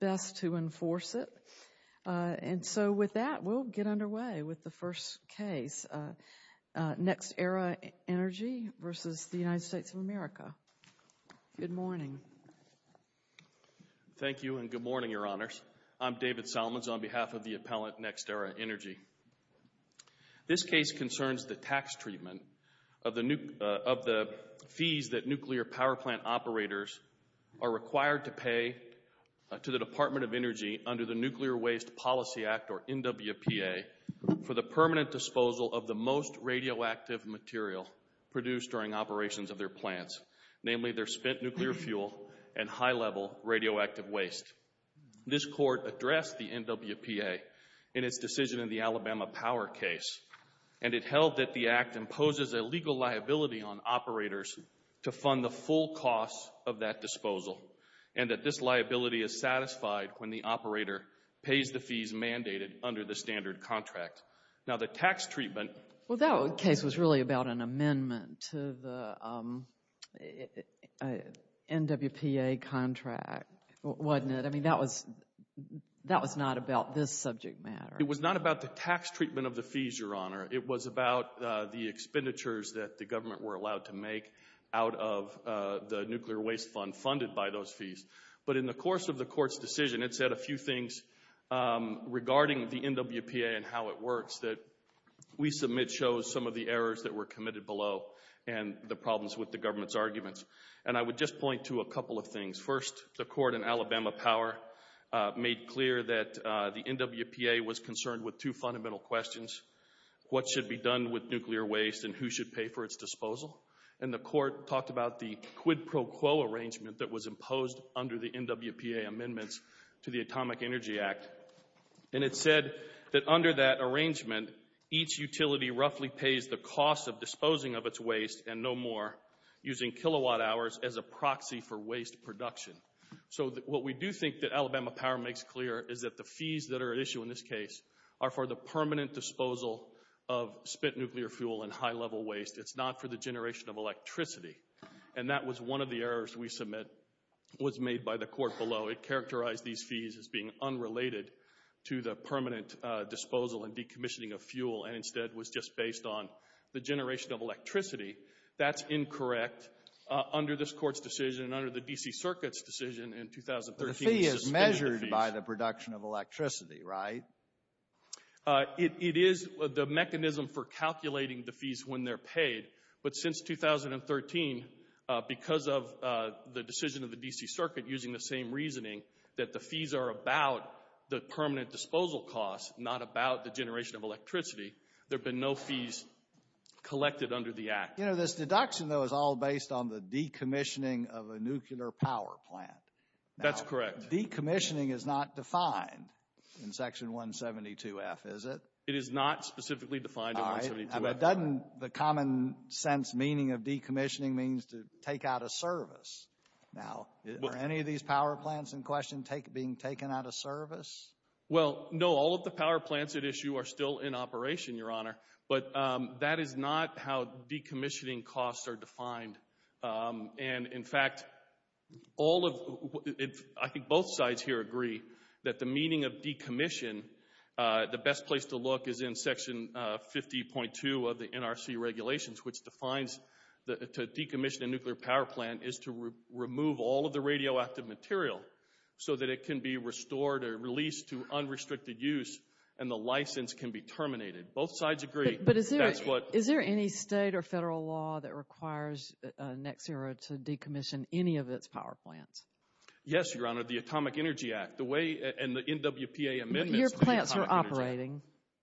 Best to enforce it. And so with that, we'll get underway with the first case, NextEra Energy versus the United States of America. Good morning. Thank you and good morning, Your Honors. I'm David Salmons on behalf of the appellant, NextEra Energy. This case concerns the tax treatment of the fees that nuclear power plant operators are to the Department of Energy under the Nuclear Waste Policy Act, or NWPA, for the permanent disposal of the most radioactive material produced during operations of their plants, namely their spent nuclear fuel and high-level radioactive waste. This Court addressed the NWPA in its decision in the Alabama Power case, and it held that the Act imposes a legal liability on operators to fund the full cost of that disposal and that this liability is satisfied when the operator pays the fees mandated under the standard contract. Now the tax treatment... Well, that case was really about an amendment to the NWPA contract, wasn't it? I mean, that was not about this subject matter. It was not about the tax treatment of the fees, Your Honor. It was about the expenditures that the government were allowed to make out of the nuclear waste fund funded by those fees. But in the course of the Court's decision, it said a few things regarding the NWPA and how it works that we submit shows some of the errors that were committed below and the problems with the government's arguments. And I would just point to a couple of things. First, the Court in Alabama Power made clear that the NWPA was concerned with two fundamental questions, what should be done with nuclear waste and who should pay for its disposal. And the Court talked about the quid pro quo arrangement that was imposed under the NWPA amendments to the Atomic Energy Act. And it said that under that arrangement, each utility roughly pays the cost of disposing of its waste and no more using kilowatt hours as a proxy for waste production. So what we do think that Alabama Power makes clear is that the fees that are at issue in this case are for the permanent disposal of spent nuclear fuel and high-level waste. It's not for the generation of electricity. And that was one of the errors we submit was made by the Court below. It characterized these fees as being unrelated to the permanent disposal and decommissioning of fuel and instead was just based on the generation of electricity. That's incorrect under this Court's decision and under the D.C. Circuit's decision in 2013 to suspend the fees. The fee is measured by the production of electricity, right? It is the mechanism for calculating the fees when they're paid. But since 2013, because of the decision of the D.C. Circuit using the same reasoning that the fees are about the permanent disposal costs, not about the generation of electricity, there have been no fees collected under the Act. You know, this deduction, though, is all based on the decommissioning of a nuclear power plant. That's correct. But decommissioning is not defined in Section 172F, is it? It is not specifically defined in 172F. All right. But doesn't the common-sense meaning of decommissioning means to take out a service? Now, are any of these power plants in question being taken out of service? Well, no. All of the power plants at issue are still in operation, Your Honor. But that is not how decommissioning costs are defined. And, in fact, I think both sides here agree that the meaning of decommission, the best place to look is in Section 50.2 of the NRC regulations, which defines that to decommission a nuclear power plant is to remove all of the radioactive material so that it can be restored or released to unrestricted use and the license can be terminated. Both sides agree. But is there any state or federal law that requires NECSERA to decommission any of its power plants? Yes, Your Honor. The Atomic Energy Act, the way, and the NWPA amendments to the Atomic Energy Act. But your plants are operating.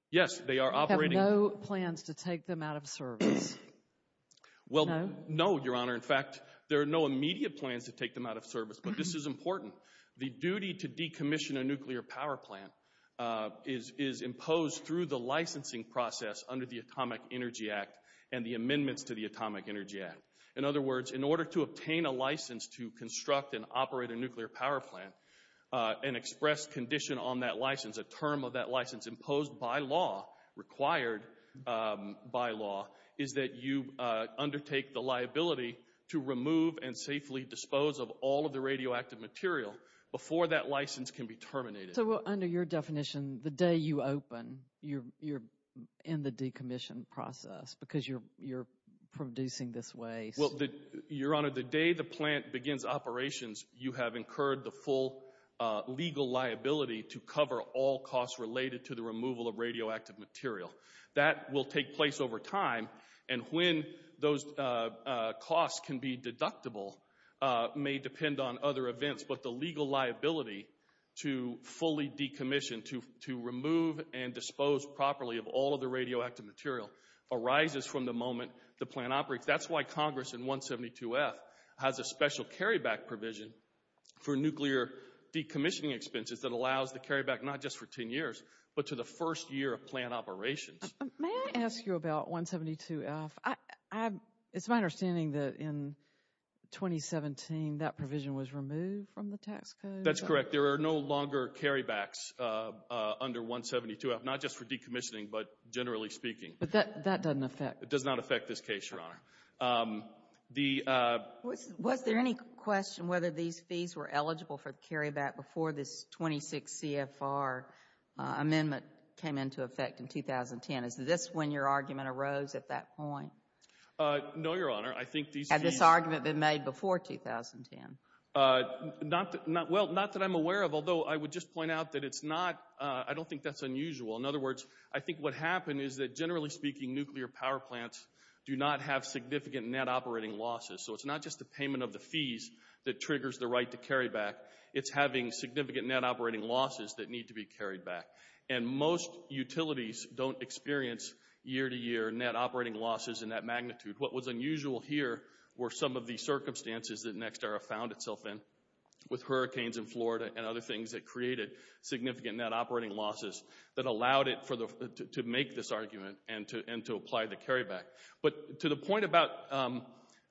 Yes. They are operating. You have no plans to take them out of service. No? Well, no, Your Honor. In fact, there are no immediate plans to take them out of service, but this is important. The duty to decommission a nuclear power plant is imposed through the licensing process under the Atomic Energy Act and the amendments to the Atomic Energy Act. In other words, in order to obtain a license to construct and operate a nuclear power plant, an express condition on that license, a term of that license imposed by law, required by law, is that you undertake the liability to remove and safely dispose of all of the radioactive material before that license can be terminated. So, under your definition, the day you open, you're in the decommission process because you're producing this waste? Well, Your Honor, the day the plant begins operations, you have incurred the full legal liability to cover all costs related to the removal of radioactive material. That will take place over time, and when those costs can be deductible, may depend on other liability to fully decommission, to remove and dispose properly of all of the radioactive material arises from the moment the plant operates. That's why Congress in 172F has a special carryback provision for nuclear decommissioning expenses that allows the carryback not just for 10 years, but to the first year of plant operations. May I ask you about 172F? It's my understanding that in 2017, that provision was removed from the tax code? That's correct. There are no longer carrybacks under 172F, not just for decommissioning, but generally speaking. But that doesn't affect? It does not affect this case, Your Honor. Was there any question whether these fees were eligible for the carryback before this 26 CFR amendment came into effect in 2010? Is this when your argument arose at that point? No, Your Honor. I think these fees... Had this argument been made before 2010? Not that I'm aware of, although I would just point out that it's not, I don't think that's unusual. In other words, I think what happened is that generally speaking, nuclear power plants do not have significant net operating losses. So it's not just the payment of the fees that triggers the right to carry back. It's having significant net operating losses that need to be carried back. And most utilities don't experience year-to-year net operating losses in that magnitude. What was unusual here were some of the circumstances that NextEra found itself in, with hurricanes in Florida and other things that created significant net operating losses that allowed it to make this argument and to apply the carryback. But to the point about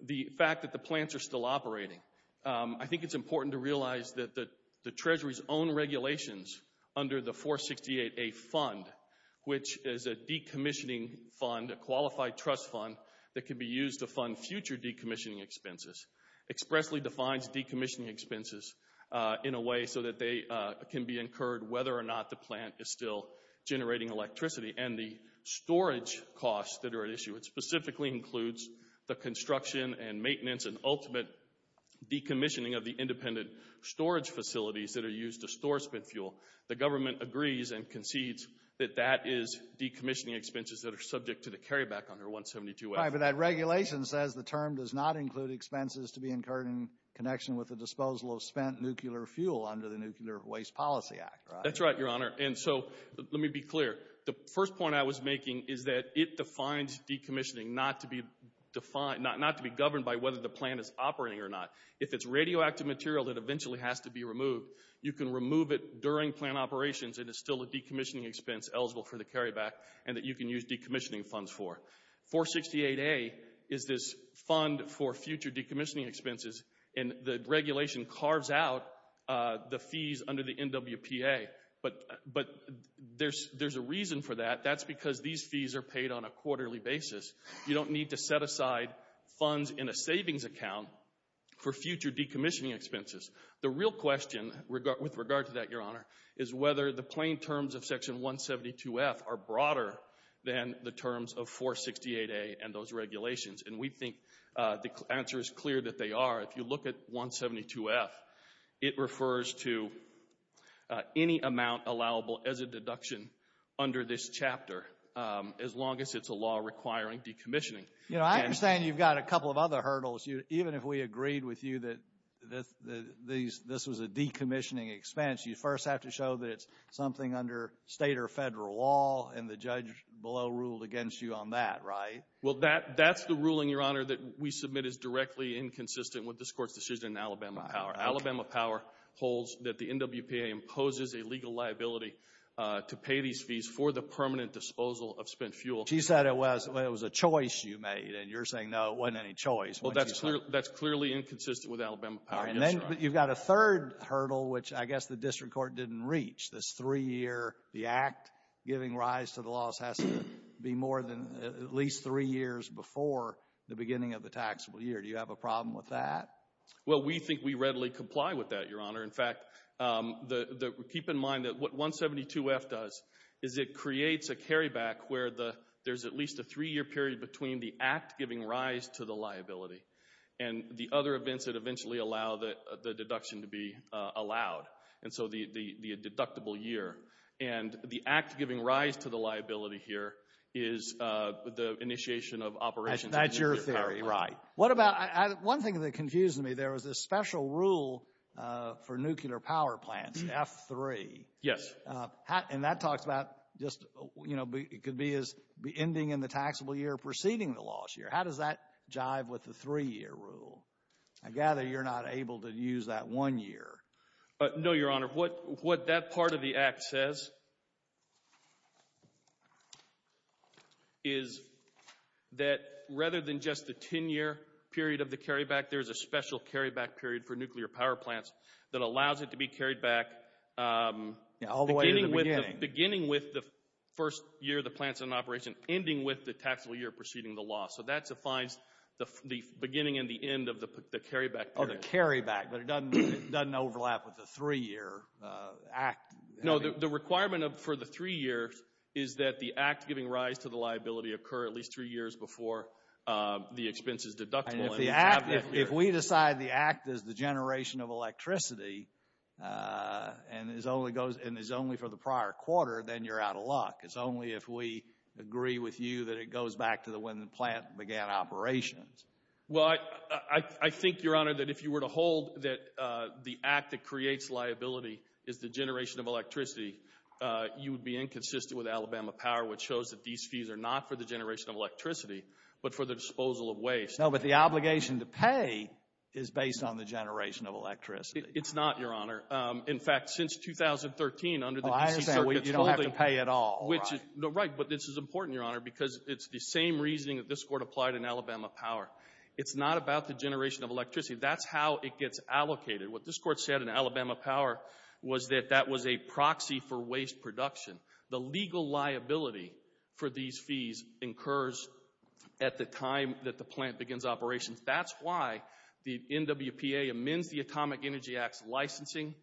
the fact that the plants are still operating, I think it's important to realize that the Treasury's own regulations under the 468A fund, which is a decommissioning fund, a qualified trust fund that can be used to fund future decommissioning expenses, expressly defines decommissioning expenses in a way so that they can be incurred whether or not the plant is still generating electricity. And the storage costs that are at issue, it specifically includes the construction and independent storage facilities that are used to store spent fuel. The government agrees and concedes that that is decommissioning expenses that are subject to the carryback under 172A. Right, but that regulation says the term does not include expenses to be incurred in connection with the disposal of spent nuclear fuel under the Nuclear Waste Policy Act, right? That's right, Your Honor. And so let me be clear. The first point I was making is that it defines decommissioning not to be governed by whether the plant is operating or not. If it's radioactive material that eventually has to be removed, you can remove it during plant operations and it's still a decommissioning expense eligible for the carryback and that you can use decommissioning funds for. 468A is this fund for future decommissioning expenses and the regulation carves out the fees under the NWPA. But there's a reason for that. That's because these fees are paid on a quarterly basis. You don't need to set aside funds in a savings account for future decommissioning expenses. The real question with regard to that, Your Honor, is whether the plain terms of Section 172F are broader than the terms of 468A and those regulations. And we think the answer is clear that they are. If you look at 172F, it refers to any amount allowable as a deduction under this chapter as long as it's a law requiring decommissioning. You know, I understand you've got a couple of other hurdles. Even if we agreed with you that this was a decommissioning expense, you first have to show that it's something under state or federal law and the judge below ruled against you on that, right? Well, that's the ruling, Your Honor, that we submit is directly inconsistent with this Court's decision in Alabama Power. Alabama Power holds that the NWPA imposes a legal liability to pay these fees for the permanent disposal of spent fuel. She said it was a choice you made, and you're saying, no, it wasn't any choice. Well, that's clearly inconsistent with Alabama Power, yes, Your Honor. And then you've got a third hurdle, which I guess the district court didn't reach. This three-year, the act giving rise to the laws has to be more than at least three years before the beginning of the taxable year. Do you have a problem with that? Well, we think we readily comply with that, Your Honor. In fact, keep in mind that what 172F does is it creates a carryback where there's at least a three-year period between the act giving rise to the liability and the other events that eventually allow the deduction to be allowed, and so the deductible year. And the act giving rise to the liability here is the initiation of operations. That's your theory, right. What about, one thing that confused me, there was this special rule for nuclear power plants, F3. Yes. And that talks about just, you know, it could be as ending in the taxable year preceding the loss year. How does that jive with the three-year rule? I gather you're not able to use that one year. No, Your Honor. What that part of the act says is that rather than just the 10-year period of the carryback, there's a special carryback period for nuclear power plants that allows it to be carried back beginning with the first year the plant's in operation, ending with the taxable year preceding the loss. So that defines the beginning and the end of the carryback period. The beginning of the carryback, but it doesn't overlap with the three-year act. No, the requirement for the three years is that the act giving rise to the liability occur at least three years before the expense is deductible. If we decide the act is the generation of electricity and is only for the prior quarter, then you're out of luck. It's only if we agree with you that it goes back to when the plant began operations. Well, I think, Your Honor, that if you were to hold that the act that creates liability is the generation of electricity, you would be inconsistent with Alabama Power, which shows that these fees are not for the generation of electricity, but for the disposal of waste. No, but the obligation to pay is based on the generation of electricity. It's not, Your Honor. In fact, since 2013, under the D.C. Circuit's holding— Oh, I understand. You don't have to pay at all. Right, but this is important, Your Honor, because it's the same reasoning that this It's not about the generation of electricity. That's how it gets allocated. What this Court said in Alabama Power was that that was a proxy for waste production. The legal liability for these fees incurs at the time that the plant begins operations. That's why the NWPA amends the Atomic Energy Act's licensing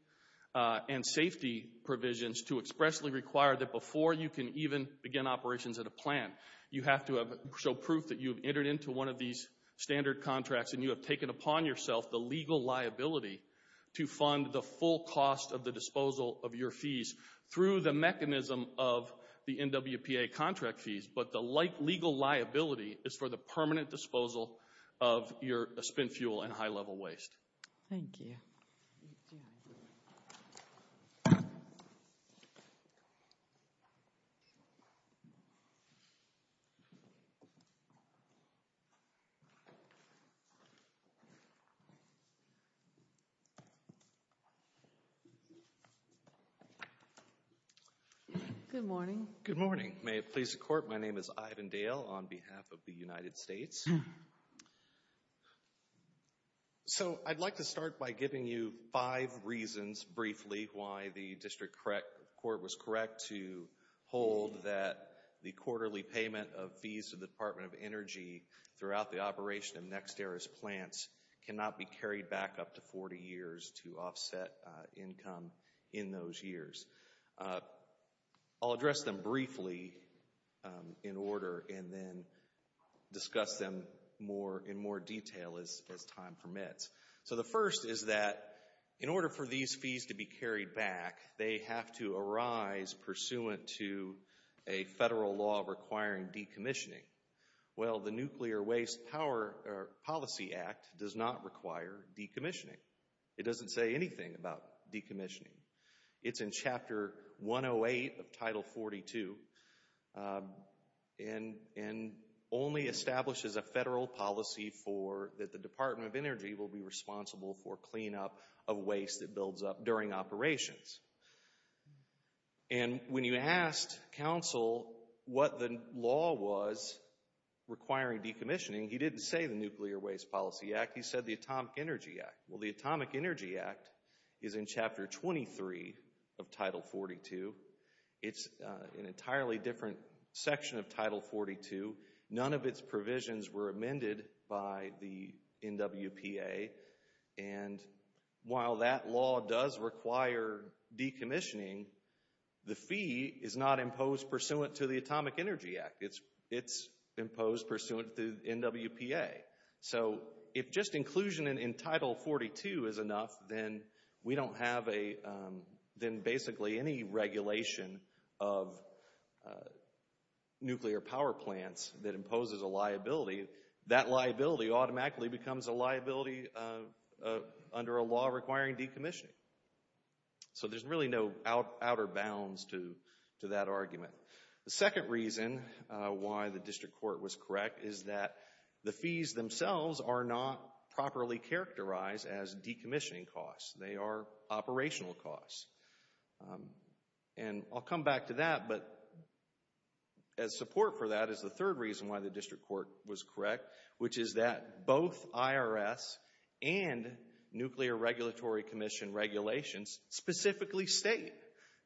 and safety provisions to expressly require that before you can even begin operations at a plant, you have to show proof that you've signed into one of these standard contracts and you have taken upon yourself the legal liability to fund the full cost of the disposal of your fees through the mechanism of the NWPA contract fees. But the legal liability is for the permanent disposal of your spent fuel and high-level waste. Thank you. Good morning. Good morning. May it please the Court, my name is Ivan Dale on behalf of the United States. So, I'd like to start by giving you five reasons, briefly, why the District Court was correct to hold that the quarterly payment of fees to the Department of Energy throughout the operation of NextEra's plants cannot be carried back up to 40 years to offset income in those years. I'll address them briefly in order and then discuss them in more detail as time permits. So the first is that in order for these fees to be carried back, they have to arise pursuant to a federal law requiring decommissioning. Well, the Nuclear Waste Policy Act does not require decommissioning. It doesn't say anything about decommissioning. It's in Chapter 108 of Title 42 and only establishes a federal policy for that the Department of Energy will be responsible for cleanup of waste that builds up during operations. And when you asked counsel what the law was requiring decommissioning, he didn't say the Nuclear Waste Policy Act, he said the Atomic Energy Act. Well, the Atomic Energy Act is in Chapter 23 of Title 42. It's an entirely different section of Title 42. None of its provisions were amended by the NWPA. And while that law does require decommissioning, the fee is not imposed pursuant to the Atomic Energy Act. It's imposed pursuant to the NWPA. So if just inclusion in Title 42 is enough, then we don't have a, then basically any regulation of nuclear power plants that imposes a liability, that liability automatically becomes a liability under a law requiring decommissioning. So there's really no outer bounds to that argument. The second reason why the district court was correct is that the fees themselves are not properly characterized as decommissioning costs. They are operational costs. And I'll come back to that, but as support for that is the third reason why the district court was correct, which is that both IRS and Nuclear Regulatory Commission regulations specifically state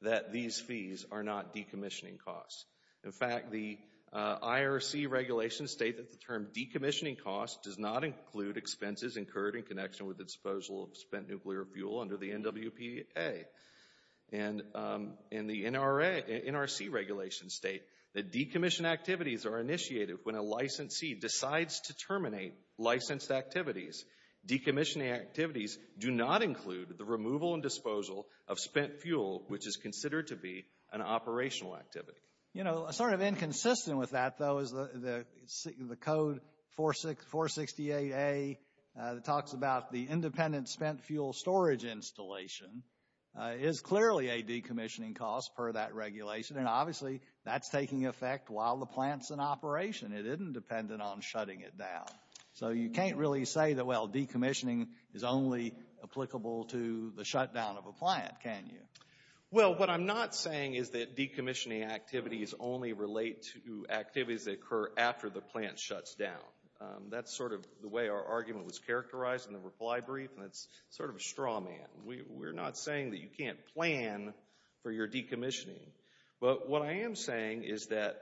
that these fees are not decommissioning costs. In fact, the IRC regulations state that the term decommissioning costs does not include expenses incurred in connection with the disposal of spent nuclear fuel under the NWPA. And in the NRC regulations state that decommission activities are initiated when a licensee decides to terminate licensed activities. Decommissioning activities do not include the removal and disposal of spent fuel, which is considered to be an operational activity. You know, sort of inconsistent with that, though, is the code 468A that talks about the independent spent fuel storage installation is clearly a decommissioning cost per that regulation. And obviously that's taking effect while the plant's in operation. It isn't dependent on shutting it down. So you can't really say that, well, decommissioning is only applicable to the shutdown of a plant, can you? Well, what I'm not saying is that decommissioning activities only relate to activities that occur after the plant shuts down. That's sort of the way our argument was characterized in the reply brief, and it's sort of a straw man. We're not saying that you can't plan for your decommissioning. But what I am saying is that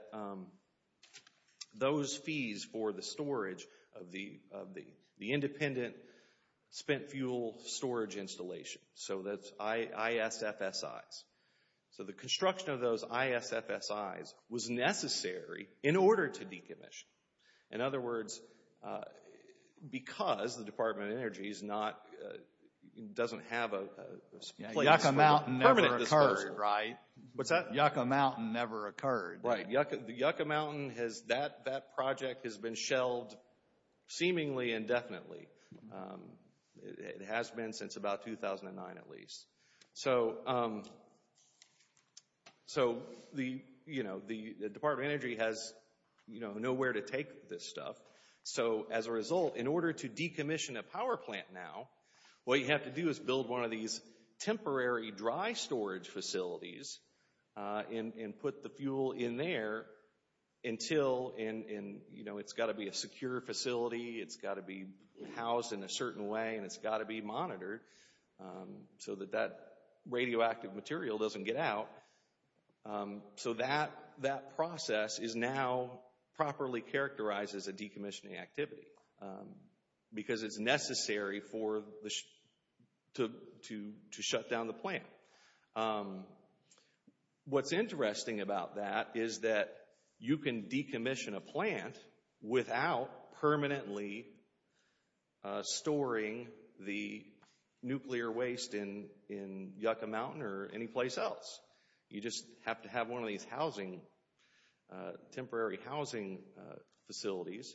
those fees for the storage of the independent spent fuel storage installation, so that's ISFSIs. So the construction of those ISFSIs was necessary in order to decommission. In other words, because the Department of Energy is not, doesn't have a place for permanent disposal. Right. What's that? Yucca Mountain never occurred. Right. The Yucca Mountain has, that project has been shelved seemingly indefinitely. It has been since about 2009 at least. So the, you know, the Department of Energy has nowhere to take this stuff. So as a result, in order to decommission a power plant now, what you have to do is build one of these temporary dry storage facilities and put the fuel in there until, and you know, it's got to be a secure facility, it's got to be housed in a certain way, and it's got to be monitored so that that radioactive material doesn't get out. So that process is now properly characterized as a decommissioning activity because it's to shut down the plant. What's interesting about that is that you can decommission a plant without permanently storing the nuclear waste in Yucca Mountain or any place else. You just have to have one of these housing, temporary housing facilities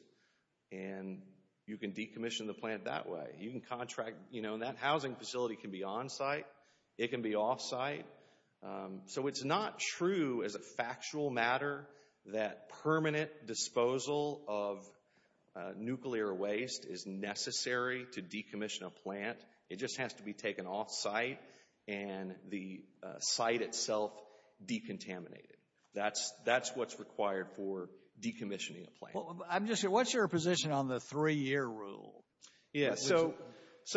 and you can decommission the plant that way. You can contract, you know, that housing facility can be on-site, it can be off-site. So it's not true as a factual matter that permanent disposal of nuclear waste is necessary to decommission a plant. It just has to be taken off-site and the site itself decontaminated. That's what's required for decommissioning a plant. I'm just, what's your position on the three-year rule? Yeah, so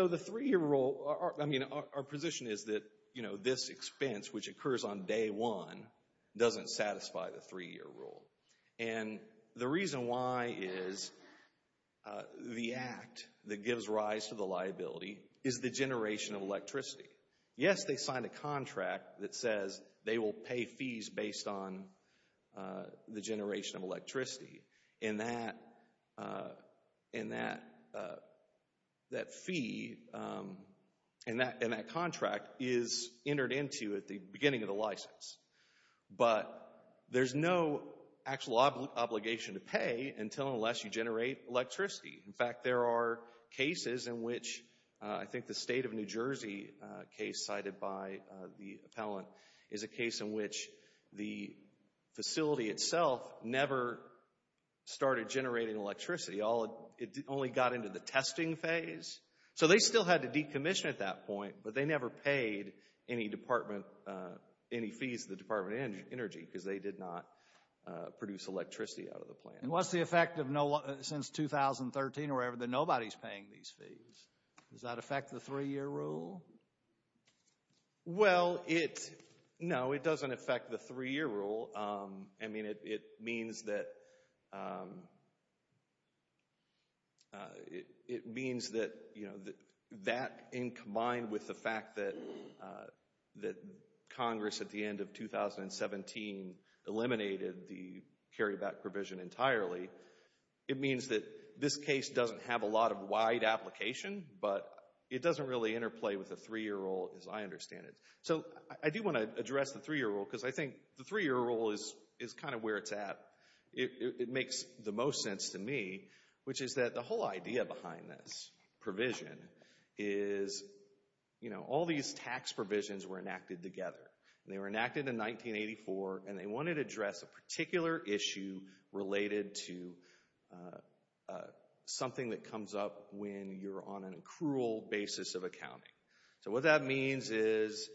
the three-year rule, I mean, our position is that, you know, this expense, which occurs on day one, doesn't satisfy the three-year rule. And the reason why is the act that gives rise to the liability is the generation of electricity. Yes, they signed a contract that says they will pay fees based on the generation of electricity. And that fee and that contract is entered into at the beginning of the license. But there's no actual obligation to pay until and unless you generate electricity. In fact, there are cases in which, I think the state of New Jersey case cited by the state of New Jersey started generating electricity. It only got into the testing phase. So they still had to decommission at that point, but they never paid any fees to the Department of Energy because they did not produce electricity out of the plant. And what's the effect since 2013 where nobody's paying these fees? Does that affect the three-year rule? Well, it, no, it doesn't affect the three-year rule. I mean, it means that, it means that, you know, that in combined with the fact that Congress at the end of 2017 eliminated the carryback provision entirely, it means that this case doesn't have a lot of wide application. But it doesn't really interplay with the three-year rule as I understand it. So I do want to address the three-year rule because I think the three-year rule is kind of where it's at. It makes the most sense to me, which is that the whole idea behind this provision is, you know, all these tax provisions were enacted together. They were enacted in 1984 and they wanted to address a particular issue related to something that comes up when you're on an accrual basis of accounting. So what that means is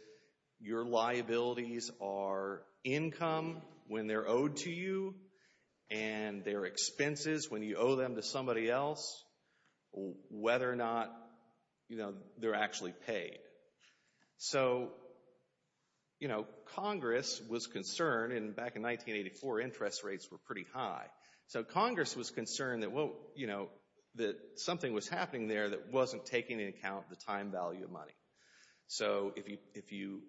your liabilities are income when they're owed to you, and they're expenses when you owe them to somebody else, whether or not, you know, they're actually paid. So, you know, Congress was concerned, and back in 1984 interest rates were pretty high. So Congress was concerned that, you know, that something was happening there that wasn't taking into account the time value of money. So if you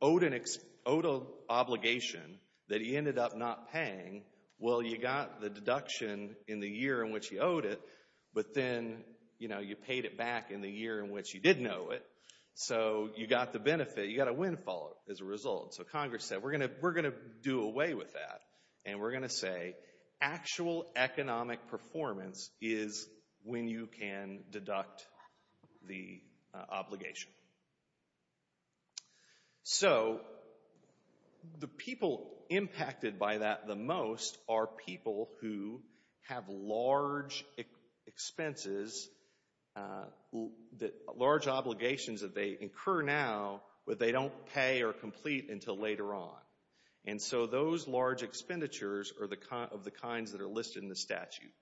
owed an obligation that he ended up not paying, well, you got the deduction in the year in which you owed it, but then, you know, you paid it back in the year in which you didn't owe it. So you got the benefit, you got a windfall as a result. So Congress said, we're going to do away with that. And we're going to say actual economic performance is when you can deduct the obligation. So the people impacted by that the most are people who have large expenses, large obligations that they incur now, but they don't pay or complete until later on. And so those large expenditures are of the kinds that are listed in the statute.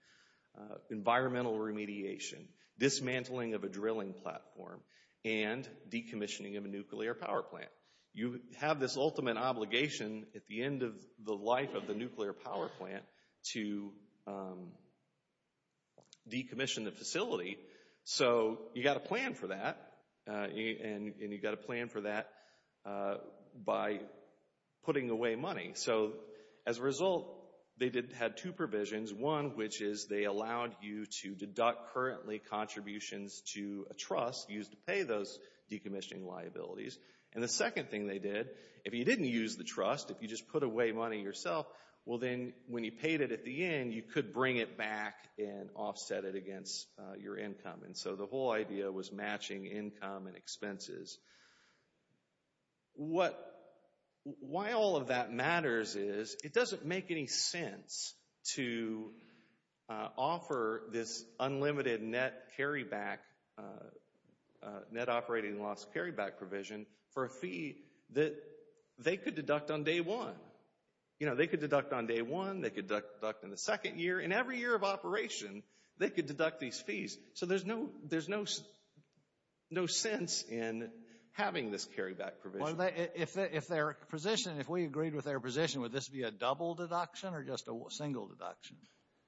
Environmental remediation, dismantling of a drilling platform, and decommissioning of a nuclear power plant. You have this ultimate obligation at the end of the life of the nuclear power plant to decommission the facility. So you got to plan for that, and you got to plan for that by putting away money. So as a result, they had two provisions. One, which is they allowed you to deduct currently contributions to a trust used to pay those decommissioning liabilities. And the second thing they did, if you didn't use the trust, if you just put away money yourself, well then, when you paid it at the end, you could bring it back and offset it your income. And so the whole idea was matching income and expenses. What, why all of that matters is, it doesn't make any sense to offer this unlimited net carryback, net operating loss carryback provision for a fee that they could deduct on day one. You know, they could deduct on day one, they could deduct in the second year, and every year of operation, they could deduct these fees. So there's no sense in having this carryback provision. If their position, if we agreed with their position, would this be a double deduction or just a single deduction?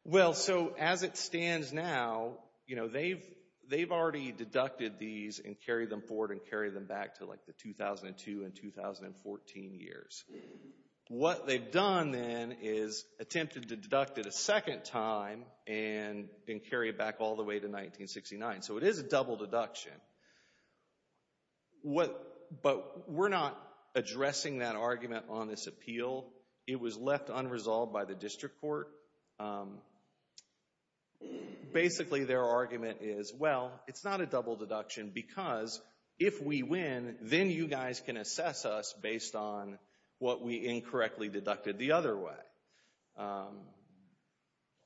Well, so as it stands now, you know, they've already deducted these and carried them forward and carried them back to like the 2002 and 2014 years. What they've done then is attempted to deduct it a second time and carry it back all the way to 1969. So it is a double deduction. But we're not addressing that argument on this appeal. It was left unresolved by the district court. Basically their argument is, well, it's not a double deduction because if we win, then maybe you guys can assess us based on what we incorrectly deducted the other way.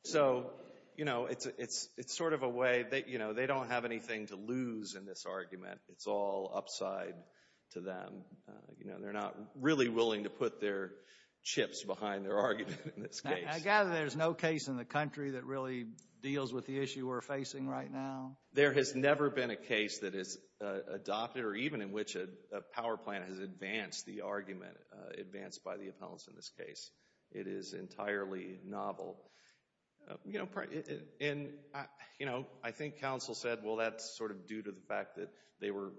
So you know, it's sort of a way that, you know, they don't have anything to lose in this argument. It's all upside to them. You know, they're not really willing to put their chips behind their argument in this case. I gather there's no case in the country that really deals with the issue we're facing right now? There has never been a case that is adopted or even in which a power plant has advanced the argument, advanced by the appellants in this case. It is entirely novel. You know, I think counsel said, well, that's sort of due to the fact that they were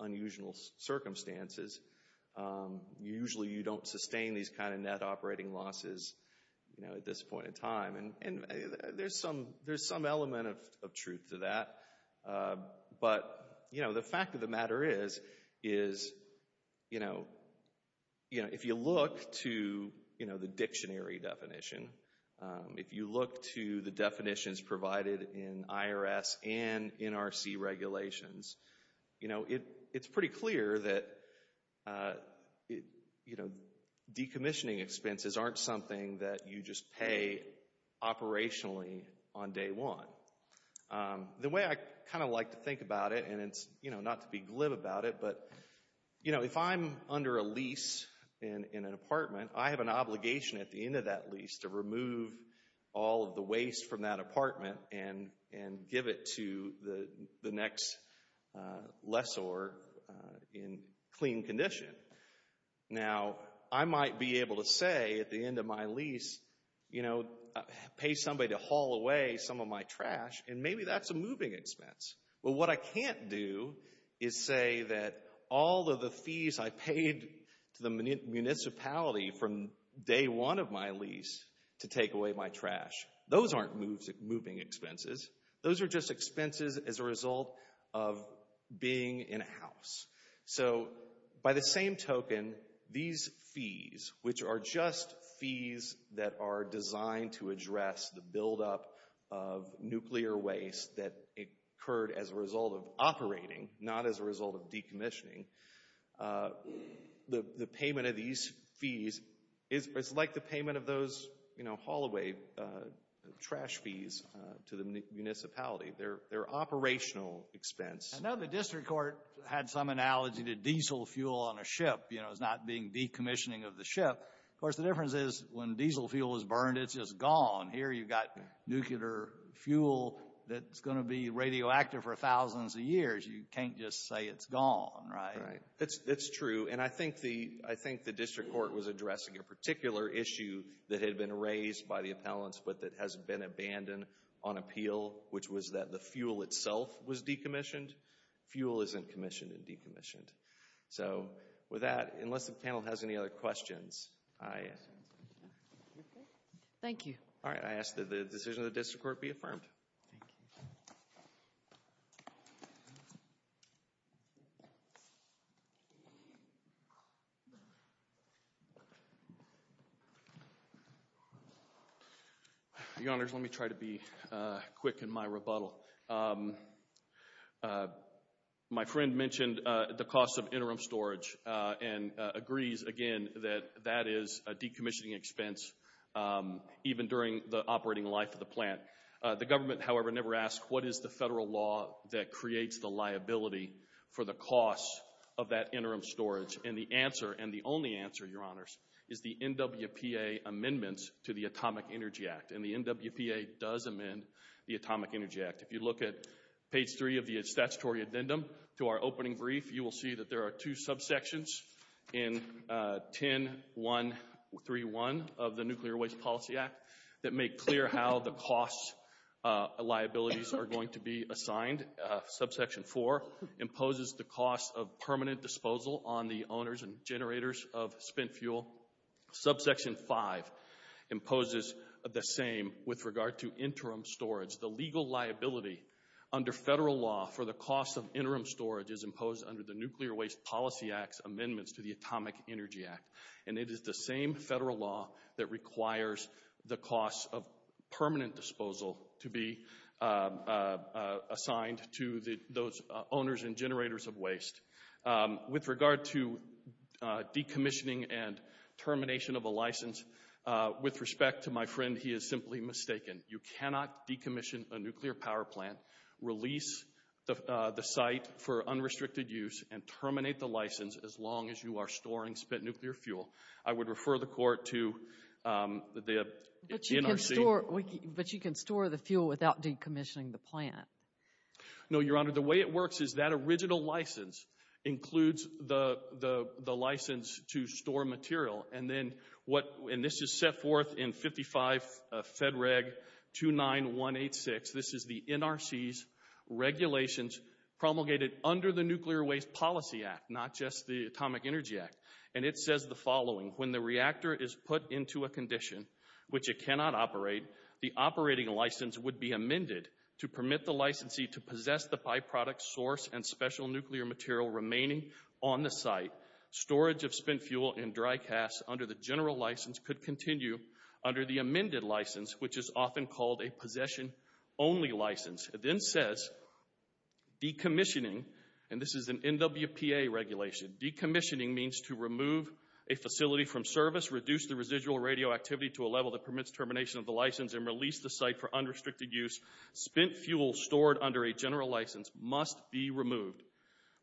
unusual circumstances. Usually you don't sustain these kind of net operating losses, you know, at this point in time. And there's some element of truth to that. But you know, the fact of the matter is, is, you know, if you look to the dictionary definition, if you look to the definitions provided in IRS and NRC regulations, you know, it's pretty clear that, you know, decommissioning expenses aren't something that you just pay operationally on day one. The way I kind of like to think about it, and it's, you know, not to be glib about it, but you know, if I'm under a lease in an apartment, I have an obligation at the end of that lease to remove all of the waste from that apartment and give it to the next lessor in clean condition. Now, I might be able to say at the end of my lease, you know, pay somebody to haul away some of my trash, and maybe that's a moving expense. But what I can't do is say that all of the fees I paid to the municipality from day one of my lease to take away my trash, those aren't moving expenses. Those are just expenses as a result of being in a house. So by the same token, these fees, which are just fees that are designed to address the buildup of nuclear waste that occurred as a result of operating, not as a result of payment of those, you know, haul away trash fees to the municipality. They're operational expense. I know the district court had some analogy to diesel fuel on a ship, you know, as not being decommissioning of the ship. Of course, the difference is when diesel fuel is burned, it's just gone. Here you've got nuclear fuel that's going to be radioactive for thousands of years. You can't just say it's gone, right? That's true, and I think the district court was addressing a particular issue that had been raised by the appellants, but that has been abandoned on appeal, which was that the fuel itself was decommissioned. Fuel isn't commissioned and decommissioned. So with that, unless the panel has any other questions, I... Thank you. All right, I ask that the decision of the district court be affirmed. Thank you. Your Honors, let me try to be quick in my rebuttal. My friend mentioned the cost of interim storage and agrees, again, that that is a decommissioning expense, even during the operating life of the plant. The government, however, never asked what is the federal law that creates the liability for the cost of that interim storage, and the answer, and the only answer, Your Honors, is the NWPA amendments to the Atomic Energy Act, and the NWPA does amend the Atomic Energy Act. If you look at page 3 of the statutory addendum to our opening brief, you will see that there are two subsections in 10.1.3.1 of the Nuclear Waste Policy Act that make clear how the cost liabilities are going to be assigned. Subsection 4 imposes the cost of permanent disposal on the owners and generators of spent fuel. Subsection 5 imposes the same with regard to interim storage. The legal liability under federal law for the cost of interim storage is imposed under the Nuclear Waste Policy Act's amendments to the Atomic Energy Act, and it is the same federal law that requires the cost of permanent disposal to be assigned to those owners and generators of waste. With regard to decommissioning and termination of a license, with respect to my friend, he is simply mistaken. You cannot decommission a nuclear power plant, release the site for unrestricted use, and terminate the license as long as you are storing spent nuclear fuel. I would refer the Court to the NRC. But you can store the fuel without decommissioning the plant? No, Your Honor, the way it works is that original license includes the license to store material, and this is set forth in 55 Fed Reg 29186. This is the NRC's regulations promulgated under the Nuclear Waste Policy Act, not just the Atomic Energy Act, and it says the following. When the reactor is put into a condition which it cannot operate, the operating license would be amended to permit the licensee to possess the byproduct, source, and special nuclear material remaining on the site. Storage of spent fuel and dry cast under the general license could continue under the amended license, which is often called a possession-only license. It then says decommissioning, and this is an NWPA regulation, decommissioning means to remove a facility from service, reduce the residual radioactivity to a level that permits termination of the license, and release the site for unrestricted use. Spent fuel stored under a general license must be removed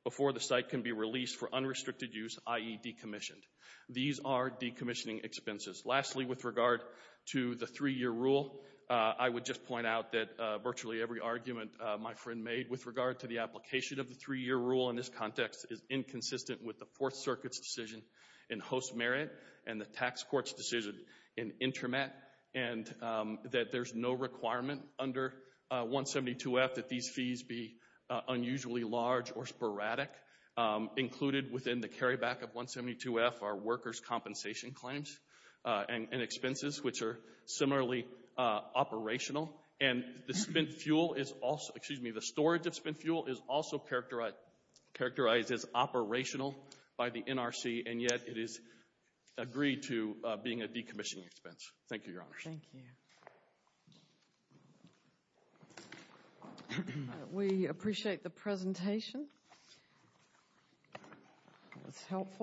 before the site can be released for unrestricted use, i.e. decommissioned. These are decommissioning expenses. Lastly, with regard to the three-year rule, I would just point out that virtually every argument my friend made with regard to the application of the three-year rule in this context is inconsistent with the Fourth Circuit's decision in host merit and the tax court's decision in intermet, and that there's no requirement under 172F that these fees be unusually large or sporadic. Included within the carryback of 172F are workers' compensation claims and expenses, which are similarly operational, and the spent fuel is also, excuse me, the storage of spent fuel is also characterized as operational by the NRC, and yet it is agreed to being a decommissioning expense. Thank you, Your Honors. Thank you. We appreciate the presentation. It was helpful.